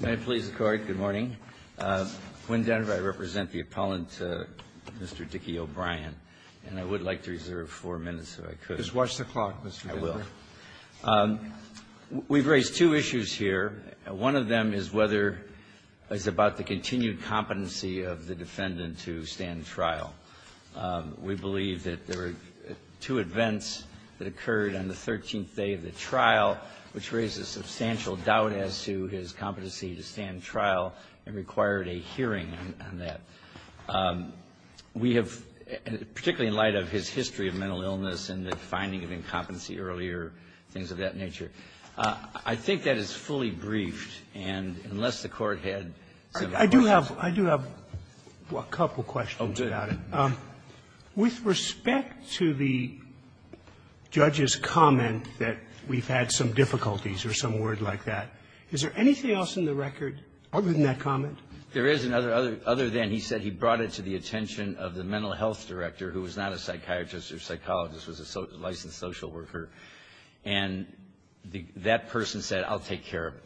May it please the Court, good morning. Quinn Denver, I represent the appellant, Mr. Dickey-O'Brien, and I would like to reserve four minutes if I could. Just watch the clock, Mr. Denver. I will. We've raised two issues here. One of them is whether it's about the continued competency of the defendant to stand trial. We believe that there were two events that occurred on the 13th day of the trial, which raised a substantial doubt as to his competency to stand trial and required a hearing on that. We have, particularly in light of his history of mental illness and the finding of incompetency earlier, things of that nature, I think that is fully briefed. And unless the Court had some questions. Sotomayor I do have a couple questions about it. With respect to the judge's comment that we've had some difficulties or some word like that, is there anything else in the record other than that comment? There is, other than he said he brought it to the attention of the mental health director, who was not a psychiatrist or psychologist, was a licensed social worker. And that person said, I'll take care of it.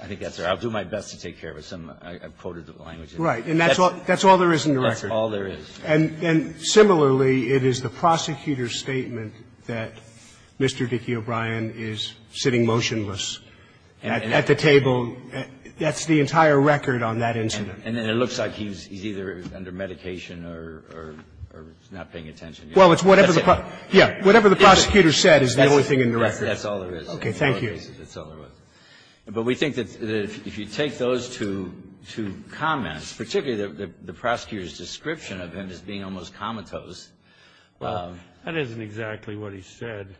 I think that's right. I'll do my best to take care of it. I quoted the language. Right. And that's all there is in the record. That's all there is. And similarly, it is the prosecutor's statement that Mr. Dickey O'Brien is sitting motionless at the table. That's the entire record on that incident. And then it looks like he's either under medication or not paying attention. Well, it's whatever the prosecutor said is the only thing in the record. That's all there is. Okay. Thank you. That's all there is. But we think that if you take those two comments, particularly the prosecutor's statement as being almost comatose. Well, that isn't exactly what he said,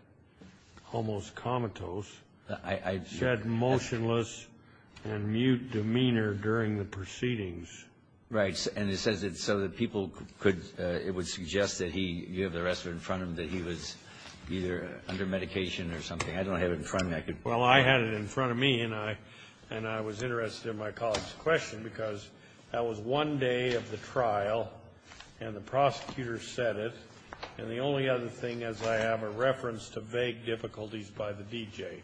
almost comatose. He said motionless and mute demeanor during the proceedings. Right. And it says it so that people could, it would suggest that he, you have the rest of it in front of him, that he was either under medication or something. I don't have it in front of me. Well, I had it in front of me, and I was interested in my colleague's question because that was one day of the trial, and the prosecutor said it, and the only other thing is I have a reference to vague difficulties by the DJ.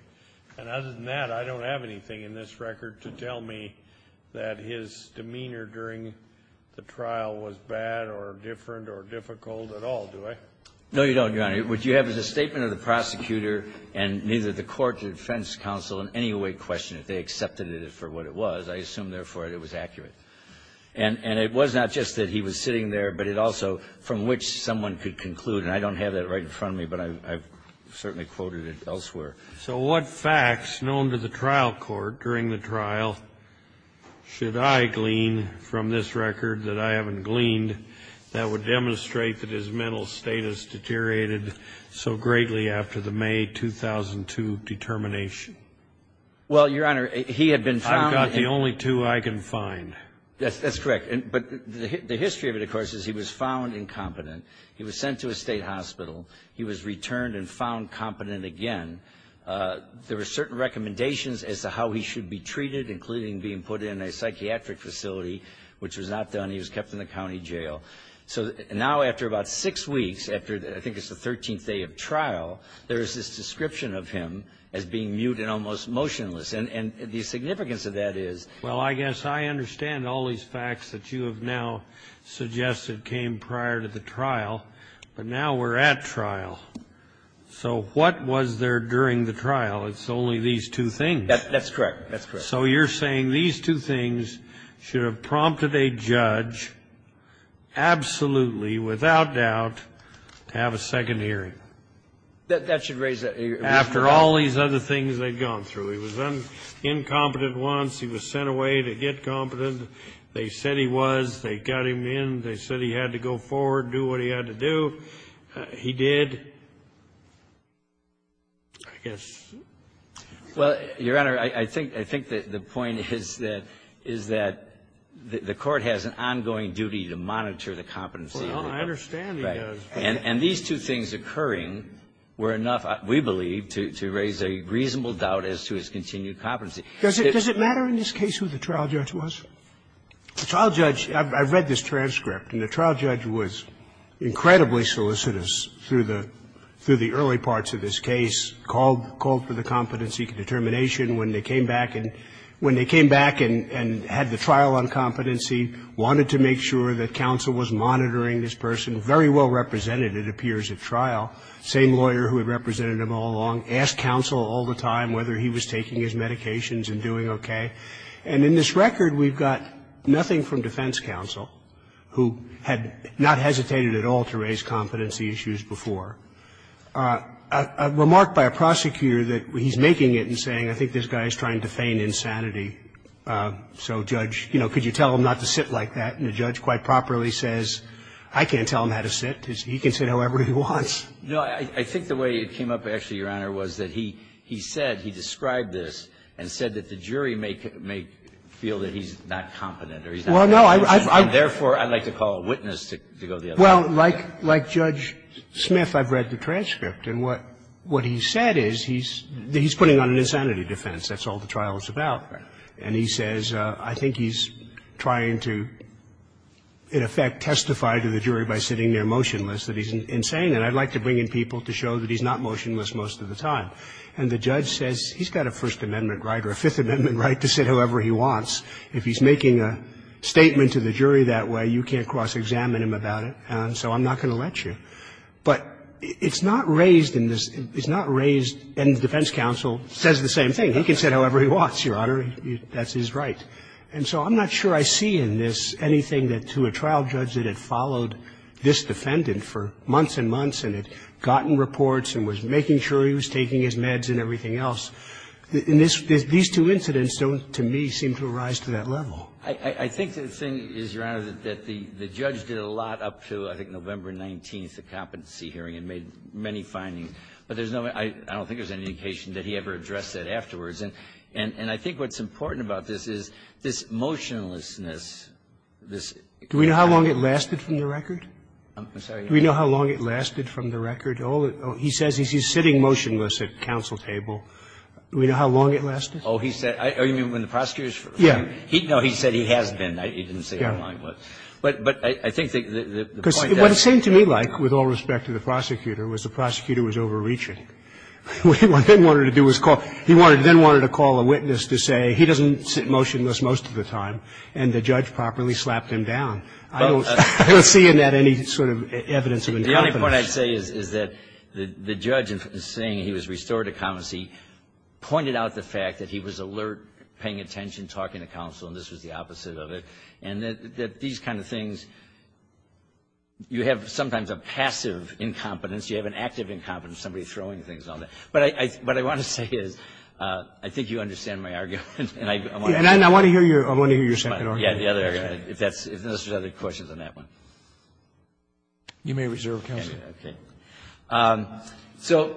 And other than that, I don't have anything in this record to tell me that his demeanor during the trial was bad or different or difficult at all, do I? No, you don't, Your Honor. What you have is a statement of the prosecutor and neither the court, defense counsel, in any way question if they accepted it for what it was. I assume, therefore, that it was accurate. And it was not just that he was sitting there, but it also, from which someone could conclude, and I don't have that right in front of me, but I've certainly quoted it elsewhere. So what facts known to the trial court during the trial should I glean from this record that I haven't gleaned that would demonstrate that his mental status deteriorated so greatly after the May 2002 determination? There are only two I can find. That's correct. But the history of it, of course, is he was found incompetent. He was sent to a State hospital. He was returned and found competent again. There were certain recommendations as to how he should be treated, including being put in a psychiatric facility, which was not done. He was kept in the county jail. So now, after about six weeks, after I think it's the 13th day of trial, there is this description of him as being mute and almost motionless. And the significance of that is he was found incompetent. So he was put in a psychiatric facility. And there are certain recommendations as to how he should be treated. And the significance of that is he was found incompetent. So now, after I think it's the 13th day of trial, there is this description And the significance of that is he was found incompetent. He was found incompetent once. He was sent away to get competent. They said he was. They got him in. They said he had to go forward, do what he had to do. He did, I guess. Well, Your Honor, I think the point is that the Court has an ongoing duty to monitor the competency. Well, I understand he does. And these two things occurring were enough, we believe, to raise a reasonable doubt as to his continued competency. Does it matter in this case who the trial judge was? The trial judge, I've read this transcript, and the trial judge was incredibly solicitous through the early parts of this case, called for the competency determination when they came back and had the trial on competency, wanted to make sure that counsel was monitoring this person, very well represented, it appears at trial. Same lawyer who had represented him all along, asked counsel all the time whether he was taking his medications and doing okay. And in this record, we've got nothing from defense counsel, who had not hesitated at all to raise competency issues before. A remark by a prosecutor that he's making it and saying, I think this guy is trying to feign insanity. So judge, you know, could you tell him not to sit like that? And the judge quite properly says, I can't tell him how to sit. He can sit however he wants. No, I think the way it came up, actually, Your Honor, was that he said, he described this, and said that the jury may feel that he's not competent or he's not competent. And therefore, I'd like to call a witness to go the other way. Well, like Judge Smith, I've read the transcript. And what he said is he's putting on an insanity defense. That's all the trial is about. And he says, I think he's trying to, in effect, testify to the jury by sitting there motionless, that he's insane. And I'd like to bring in people to show that he's not motionless most of the time. And the judge says, he's got a First Amendment right or a Fifth Amendment right to sit however he wants. If he's making a statement to the jury that way, you can't cross-examine him about it, and so I'm not going to let you. But it's not raised in this – it's not raised – and defense counsel says the same thing. He can sit however he wants, Your Honor. That's his right. And so I'm not sure I see in this anything that, to a trial judge that had followed this defendant for months and months and had gotten reports and was making sure he was taking his meds and everything else, these two incidents don't, to me, seem to arise to that level. I think the thing is, Your Honor, that the judge did a lot up to, I think, November 19th, the competency hearing, and made many findings. But there's no – I don't think there's any indication that he ever addressed that afterwards. And I think what's important about this is this motionlessness, this – Do we know how long it lasted from the record? I'm sorry. Do we know how long it lasted from the record? All that – he says he's sitting motionless at counsel table. Do we know how long it lasted? Oh, he said – oh, you mean when the prosecutor's – Yeah. No, he said he has been. He didn't say how long it was. But I think the point that – Because what it seemed to me like, with all respect to the prosecutor, was the prosecutor was overreaching. What he then wanted to do was call – he then wanted to call a witness to say he doesn't sit motionless most of the time, and the judge properly slapped him down. I don't see in that any sort of evidence of incompetence. The only point I'd say is that the judge, in saying he was restored to competency, pointed out the fact that he was alert, paying attention, talking to counsel, and this was the opposite of it, and that these kind of things – you have sometimes a passive incompetence, you have an active incompetence, somebody throwing things on there. But I want to say is, I think you understand my argument, and I want to hear your – And I want to hear your second argument. Yeah, the other – if that's – if there's other questions on that one. You may reserve counsel. Okay. So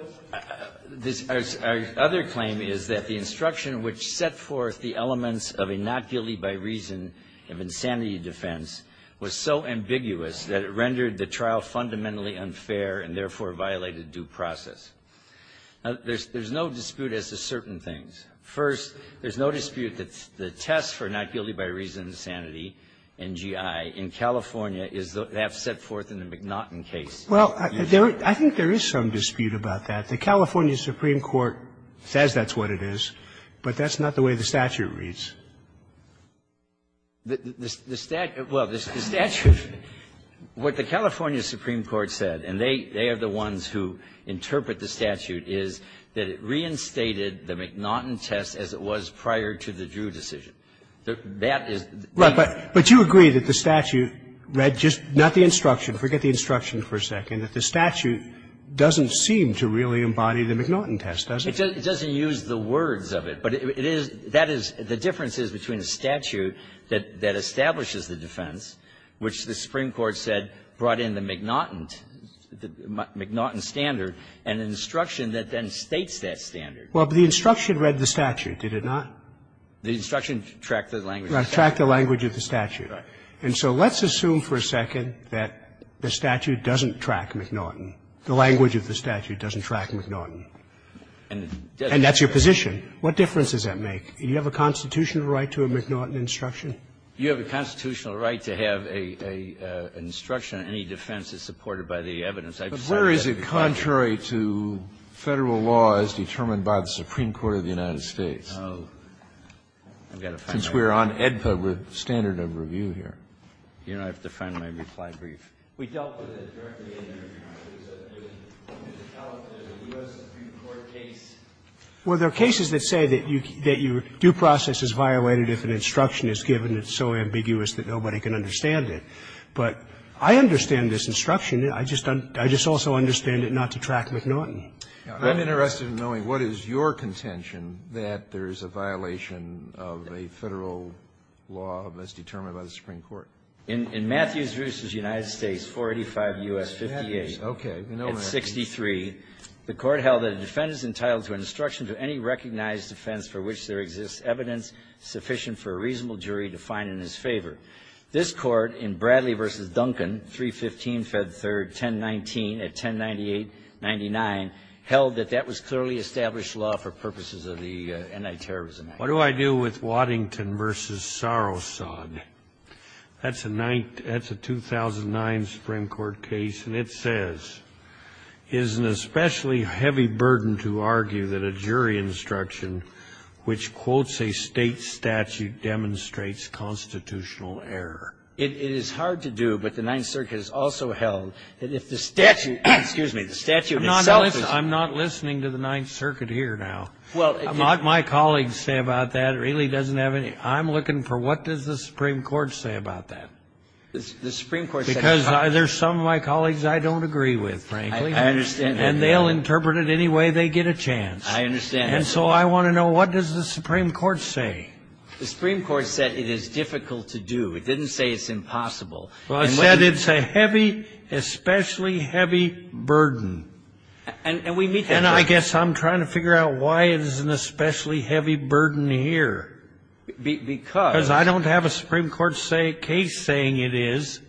this – our other claim is that the instruction which set forth the elements of a not guilty by reason of insanity defense was so ambiguous that it rendered the trial fundamentally unfair and, therefore, violated due process. Now, there's no dispute as to certain things. First, there's no dispute that the test for not guilty by reason of insanity in GI in California is what they have set forth in the McNaughton case. Well, there – I think there is some dispute about that. The California Supreme Court says that's what it is, but that's not the way the statute reads. The statute – well, the statute – what the California Supreme Court said, and they are the ones who interpret the statute, is that it reinstated the McNaughton test as it was prior to the Drew decision. That is the – Right. But you agree that the statute read just – not the instruction. Forget the instruction for a second. That the statute doesn't seem to really embody the McNaughton test, does it? It doesn't use the words of it. But it is – that is – the difference is between a statute that establishes the defense, which the Supreme Court said brought in the McNaughton – the McNaughton standard, and an instruction that then states that standard. Well, but the instruction read the statute, did it not? The instruction tracked the language of the statute. Right. Tracked the language of the statute. Right. And so let's assume for a second that the statute doesn't track McNaughton. The language of the statute doesn't track McNaughton. And it doesn't. And that's your position. What difference does that make? Do you have a constitutional right to a McNaughton instruction? You have a constitutional right to have a – an instruction on any defense that's supported by the evidence. I've said that before. But where is it contrary to Federal law as determined by the Supreme Court of the United States? Oh, I've got to find that. Since we're on AEDPA standard of review here. You don't have to find my reply brief. We dealt with it directly in your case, but you didn't tell it in the U.S. Supreme Well, there are cases that say that your due process is violated if an instruction is given that's so ambiguous that nobody can understand it. But I understand this instruction. I just don't – I just also understand it not to track McNaughton. I'm interested in knowing what is your contention that there is a violation of a Federal law as determined by the Supreme Court. In Matthews v. United States, 485 U.S. 58, at 63, the Court held that a defense entitled to an instruction to any recognized defense for which there exists evidence sufficient for a reasonable jury to find in his favor. This Court, in Bradley v. Duncan, 315 Fed 3rd, 1019, at 1098-99, held that that was clearly established law for purposes of the Anti-Terrorism Act. What do I do with Waddington v. Sarosad? That's a 2009 Supreme Court case, and it says, It is hard to do, but the Ninth Circuit has also held that if the statute – excuse me, the statute itself is – I'm not listening to the Ninth Circuit here now. Well, it – What my colleagues say about that really doesn't have any – I'm looking for what does the Supreme Court say about that? The Supreme Court says – I understand. And they'll interpret it any way they get a chance. I understand. And so I want to know what does the Supreme Court say? The Supreme Court said it is difficult to do. It didn't say it's impossible. Well, I said it's a heavy, especially heavy burden. And we meet that – And I guess I'm trying to figure out why it is an especially heavy burden here. Because – Because I don't have a Supreme Court case saying it is.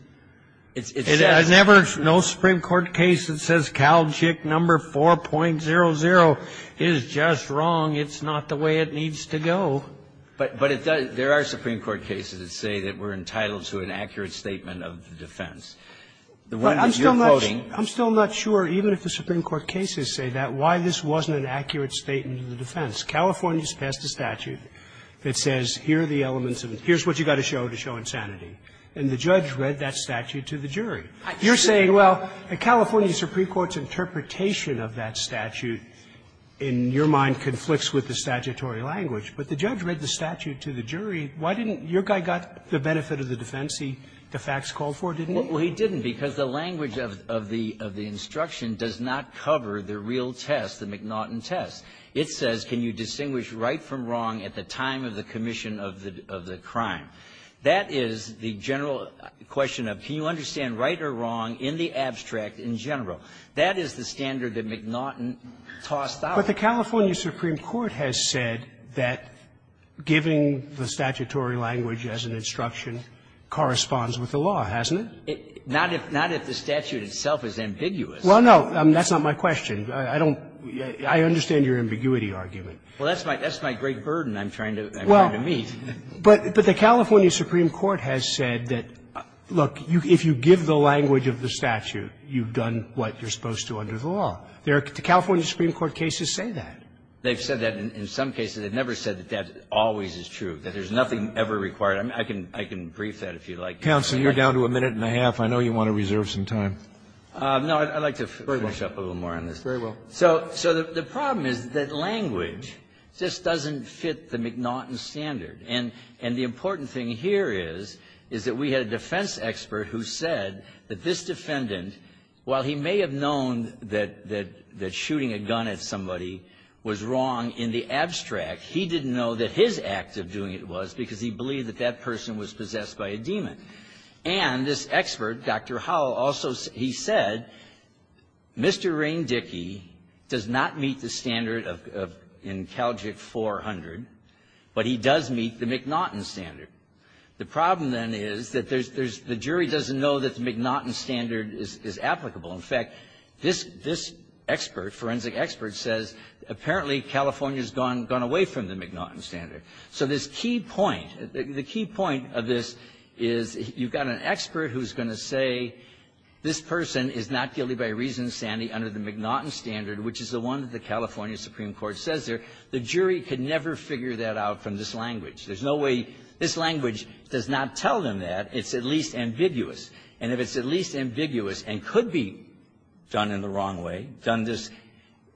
It says – I never – no Supreme Court case that says Cal JIC number 4.00 is just wrong. It's not the way it needs to go. But it does – there are Supreme Court cases that say that we're entitled to an accurate statement of the defense. The one that you're quoting – I'm still not sure, even if the Supreme Court cases say that, why this wasn't an accurate statement of the defense. California's passed a statute that says here are the elements of – here's what you've got to show to show insanity. And the judge read that statute to the jury. You're saying, well, a California Supreme Court's interpretation of that statute in your mind conflicts with the statutory language. But the judge read the statute to the jury. Why didn't – your guy got the benefit of the defense he, de facto, called for, didn't he? Well, he didn't, because the language of the instruction does not cover the real test, the McNaughton test. It says, can you distinguish right from wrong at the time of the commission of the crime? That is the general question of, can you understand right or wrong in the abstract in general? That is the standard that McNaughton tossed out. But the California Supreme Court has said that giving the statutory language as an instruction corresponds with the law, hasn't it? Not if – not if the statute itself is ambiguous. Well, no, that's not my question. I don't – I understand your ambiguity argument. Well, that's my – that's my great burden I'm trying to – I'm trying to meet. But the California Supreme Court has said that, look, if you give the language of the statute, you've done what you're supposed to under the law. The California Supreme Court cases say that. They've said that in some cases. They've never said that that always is true, that there's nothing ever required – I can – I can brief that if you'd like. Counsel, you're down to a minute and a half. I know you want to reserve some time. No, I'd like to finish up a little more on this. Very well. So the problem is that language just doesn't fit the McNaughton standard. And – and the important thing here is, is that we had a defense expert who said that this defendant, while he may have known that – that shooting a gun at somebody was wrong in the abstract, he didn't know that his act of doing it was because he believed that that person was possessed by a demon. And this expert, Dr. Howell, also – he said, Mr. Rain Dickey does not meet the McNaughton standard. The problem, then, is that there's – there's – the jury doesn't know that the McNaughton standard is – is applicable. In fact, this – this expert, forensic expert, says apparently California's gone – gone away from the McNaughton standard. So this key point – the key point of this is you've got an expert who's going to say this person is not guilty by reason of sanity under the McNaughton standard, which is the one that the California Supreme Court says there. The jury could never figure that out from this language. There's no way – this language does not tell them that. It's at least ambiguous. And if it's at least ambiguous and could be done in the wrong way, done this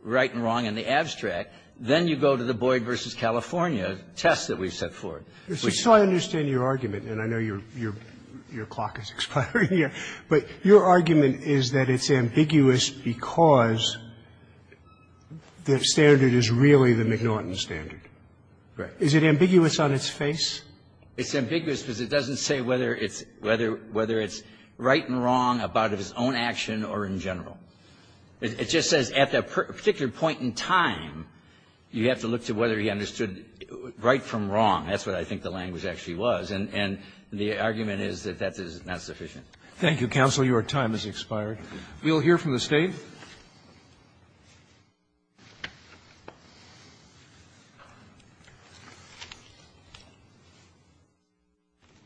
right and wrong in the abstract, then you go to the Boyd v. California test that we've set forth. Roberts. So I understand your argument, and I know your – your clock is expiring here. But your argument is that it's ambiguous because the standard is really the McNaughton standard. Right. Is it ambiguous on its face? It's ambiguous because it doesn't say whether it's – whether – whether it's right and wrong about his own action or in general. It just says at that particular point in time, you have to look to whether he understood right from wrong. That's what I think the language actually was. And – and the argument is that that is not sufficient. Thank you, counsel. Your time has expired. We'll hear from the State. Good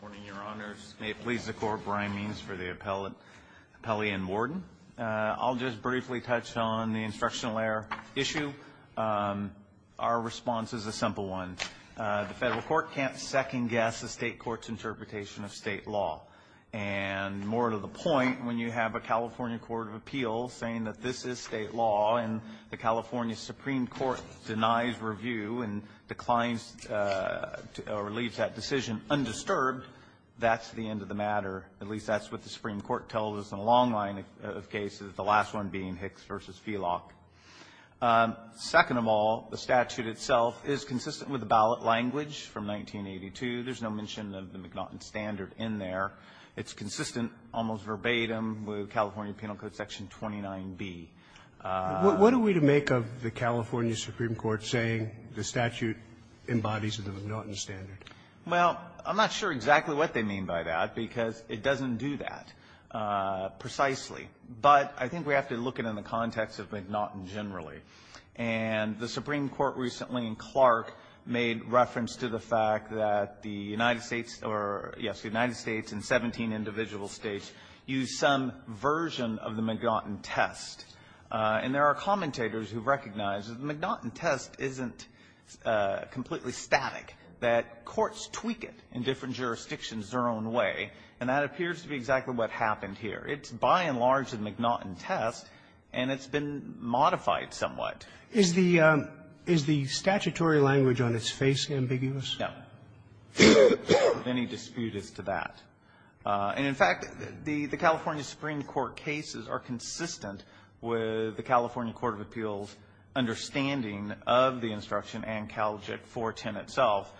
morning, Your Honors. May it please the Court, Brian Means for the appellate – appellee and warden. I'll just briefly touch on the instructional error issue. Our response is a simple one. The Federal court can't second-guess the State court's interpretation of State law. And more to the point, when you have a California court of appeals saying that this is State law and the California Supreme Court denies review and declines – or leaves that decision undisturbed, that's the end of the matter. At least that's what the Supreme Court tells us in a long line of cases, the last one being Hicks v. Felock. Second of all, the statute itself is consistent with the ballot language from 1982. There's no mention of the McNaughton standard in there. It's consistent, almost verbatim, with California Penal Code section 29B. What are we to make of the California Supreme Court saying the statute embodies the McNaughton standard? Well, I'm not sure exactly what they mean by that because it doesn't do that precisely. But I think we have to look at it in the context of McNaughton generally. And the Supreme Court recently in Clark made reference to the fact that the United States or, yes, the United States and 17 individual States use some version of the McNaughton test. And there are commentators who recognize that the McNaughton test isn't completely static, that courts tweak it in different jurisdictions their own way. And that appears to be exactly what happened here. It's, by and large, a McNaughton test, and it's been modified somewhat. Is the statutory language on its face ambiguous? No. If any dispute is to that. And, in fact, the California Supreme Court cases are consistent with the California Court of Appeals' understanding of the instruction and CALJIC 410 itself.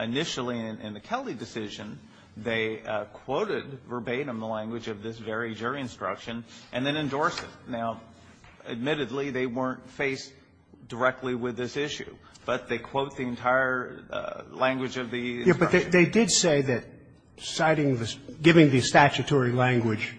Initially, in the Kelly decision, they quoted verbatim the language of this very jury instruction and then endorsed it. Now, admittedly, they weren't faced directly with this issue, but they quote the entire language of the instruction. Yeah, but they did say that citing the statutory language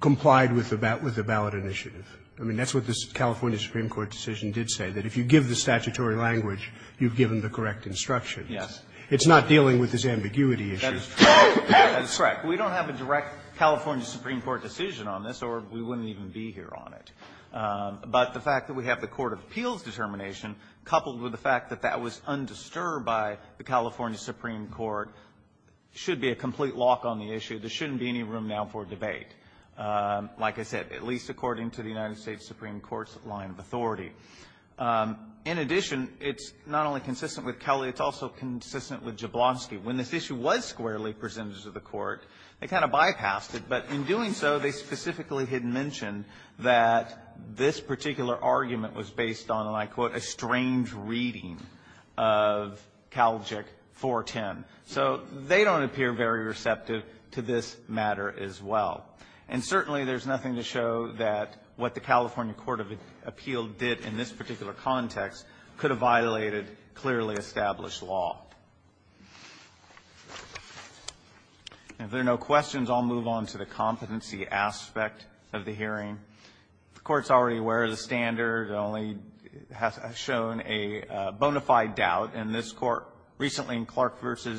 complied with the ballot initiative. I mean, that's what the California Supreme Court decision did say, that if you give the statutory language, you've given the correct instruction. Yes. It's not dealing with this ambiguity issue. That is correct. We don't have a direct California Supreme Court decision on this, or we wouldn't even be here on it. But the fact that we have the Court of Appeals' determination coupled with the fact that that was undisturbed by the California Supreme Court should be a complete lock on the issue. There shouldn't be any room now for debate, like I said, at least according to the United States Supreme Court's line of authority. In addition, it's not only consistent with Kelly, it's also consistent with Jablonski. When this issue was squarely presented to the Court, they kind of bypassed it, but in doing so, they specifically had mentioned that this particular argument was based on, and I quote, a strange reading of Calgic 410. So they don't appear very receptive to this matter as well. And certainly, there's nothing to show that what the California Court of Appeals did in this particular context could have violated clearly established law. If there are no questions, I'll move on to the competency aspect of the hearing. The Court's already aware of the standard, only has shown a bona fide doubt. And this Court recently in Clark v.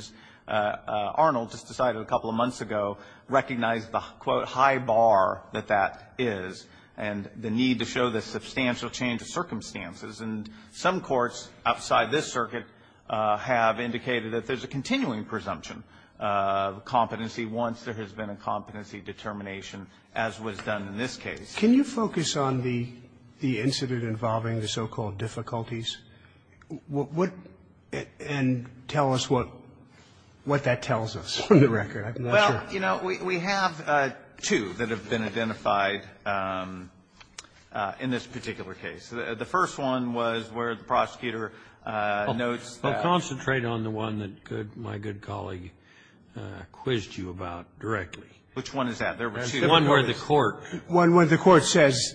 Arnold, just decided a couple of months ago, recognized the, quote, high bar that that is, and the need to show the substantial change of circumstances. And some courts outside this circuit have indicated that there's a continuing presumption of competency once there has been a competency determination, as was done in this case. Roberts, can you focus on the incident involving the so-called difficulties? What and tell us what that tells us on the record. Well, you know, we have two that have been identified in this particular case. The first one was where the prosecutor notes that. I'll concentrate on the one that my good colleague quizzed you about directly. Which one is that? There were two. The one where the court. The one where the court says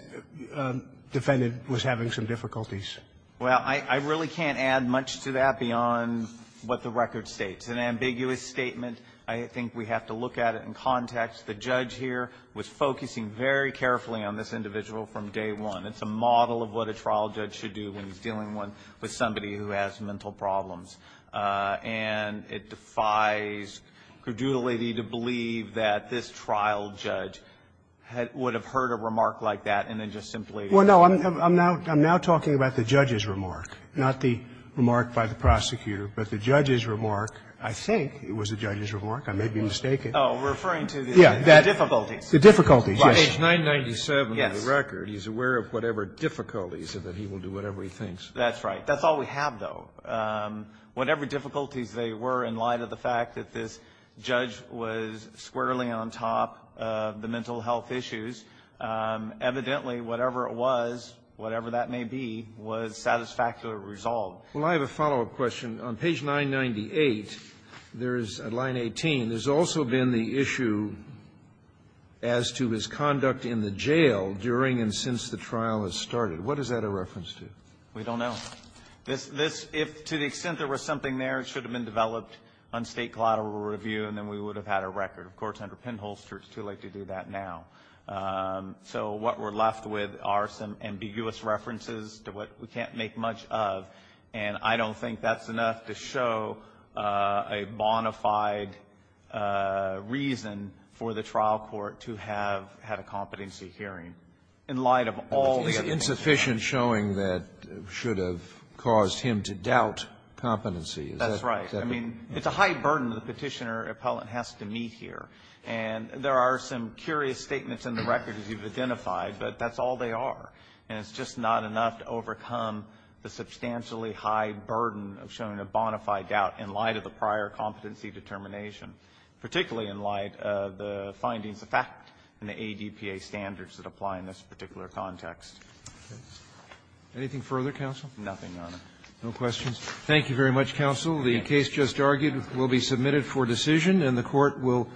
the defendant was having some difficulties. Well, I really can't add much to that beyond what the record states. It's an ambiguous statement. I think we have to look at it in context. The judge here was focusing very carefully on this individual from day one. It's a model of what a trial judge should do when he's dealing with somebody who has mental problems. And it defies credulity to believe that this trial judge would have heard a remark like that and then just simply. Well, no. I'm now talking about the judge's remark, not the remark by the prosecutor. But the judge's remark, I think it was the judge's remark. I may be mistaken. Oh, referring to the difficulties. The difficulties, yes. By page 997 of the record, he's aware of whatever difficulties, and that he will do whatever he thinks. That's right. That's all we have, though. Whatever difficulties they were in light of the fact that this judge was squarely on top of the mental health issues, evidently, whatever it was, whatever that may be, was satisfactorily resolved. Well, I have a follow-up question. On page 998, there is, at line 18, there's also been the issue as to his conduct in the jail during and since the trial has started. What is that a reference to? We don't know. This to the extent there was something there, it should have been developed on state collateral review, and then we would have had a record. Of course, under Penholster, it's too late to do that now. So what we're left with are some ambiguous references to what we can't make much of, and I don't think that's enough to show a bona fide reason for the trial court to have had a competency hearing in light of all the other things. It's insufficient showing that it should have caused him to doubt competency. Is that the question? That's right. I mean, it's a high burden the Petitioner appellant has to meet here. And there are some curious statements in the record, as you've identified, but that's all they are. And it's just not enough to overcome the substantially high burden of showing a bona fide doubt in light of the prior competency determination, particularly in light of the findings of fact in the ADPA standards that apply in this particular context. Anything further, counsel? Nothing, Your Honor. No questions. Thank you very much, counsel. The case just argued will be submitted for decision, and the Court will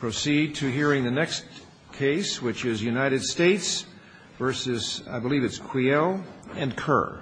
proceed to hearing the next case, which is United States v. I believe it's Quiel and Kerr.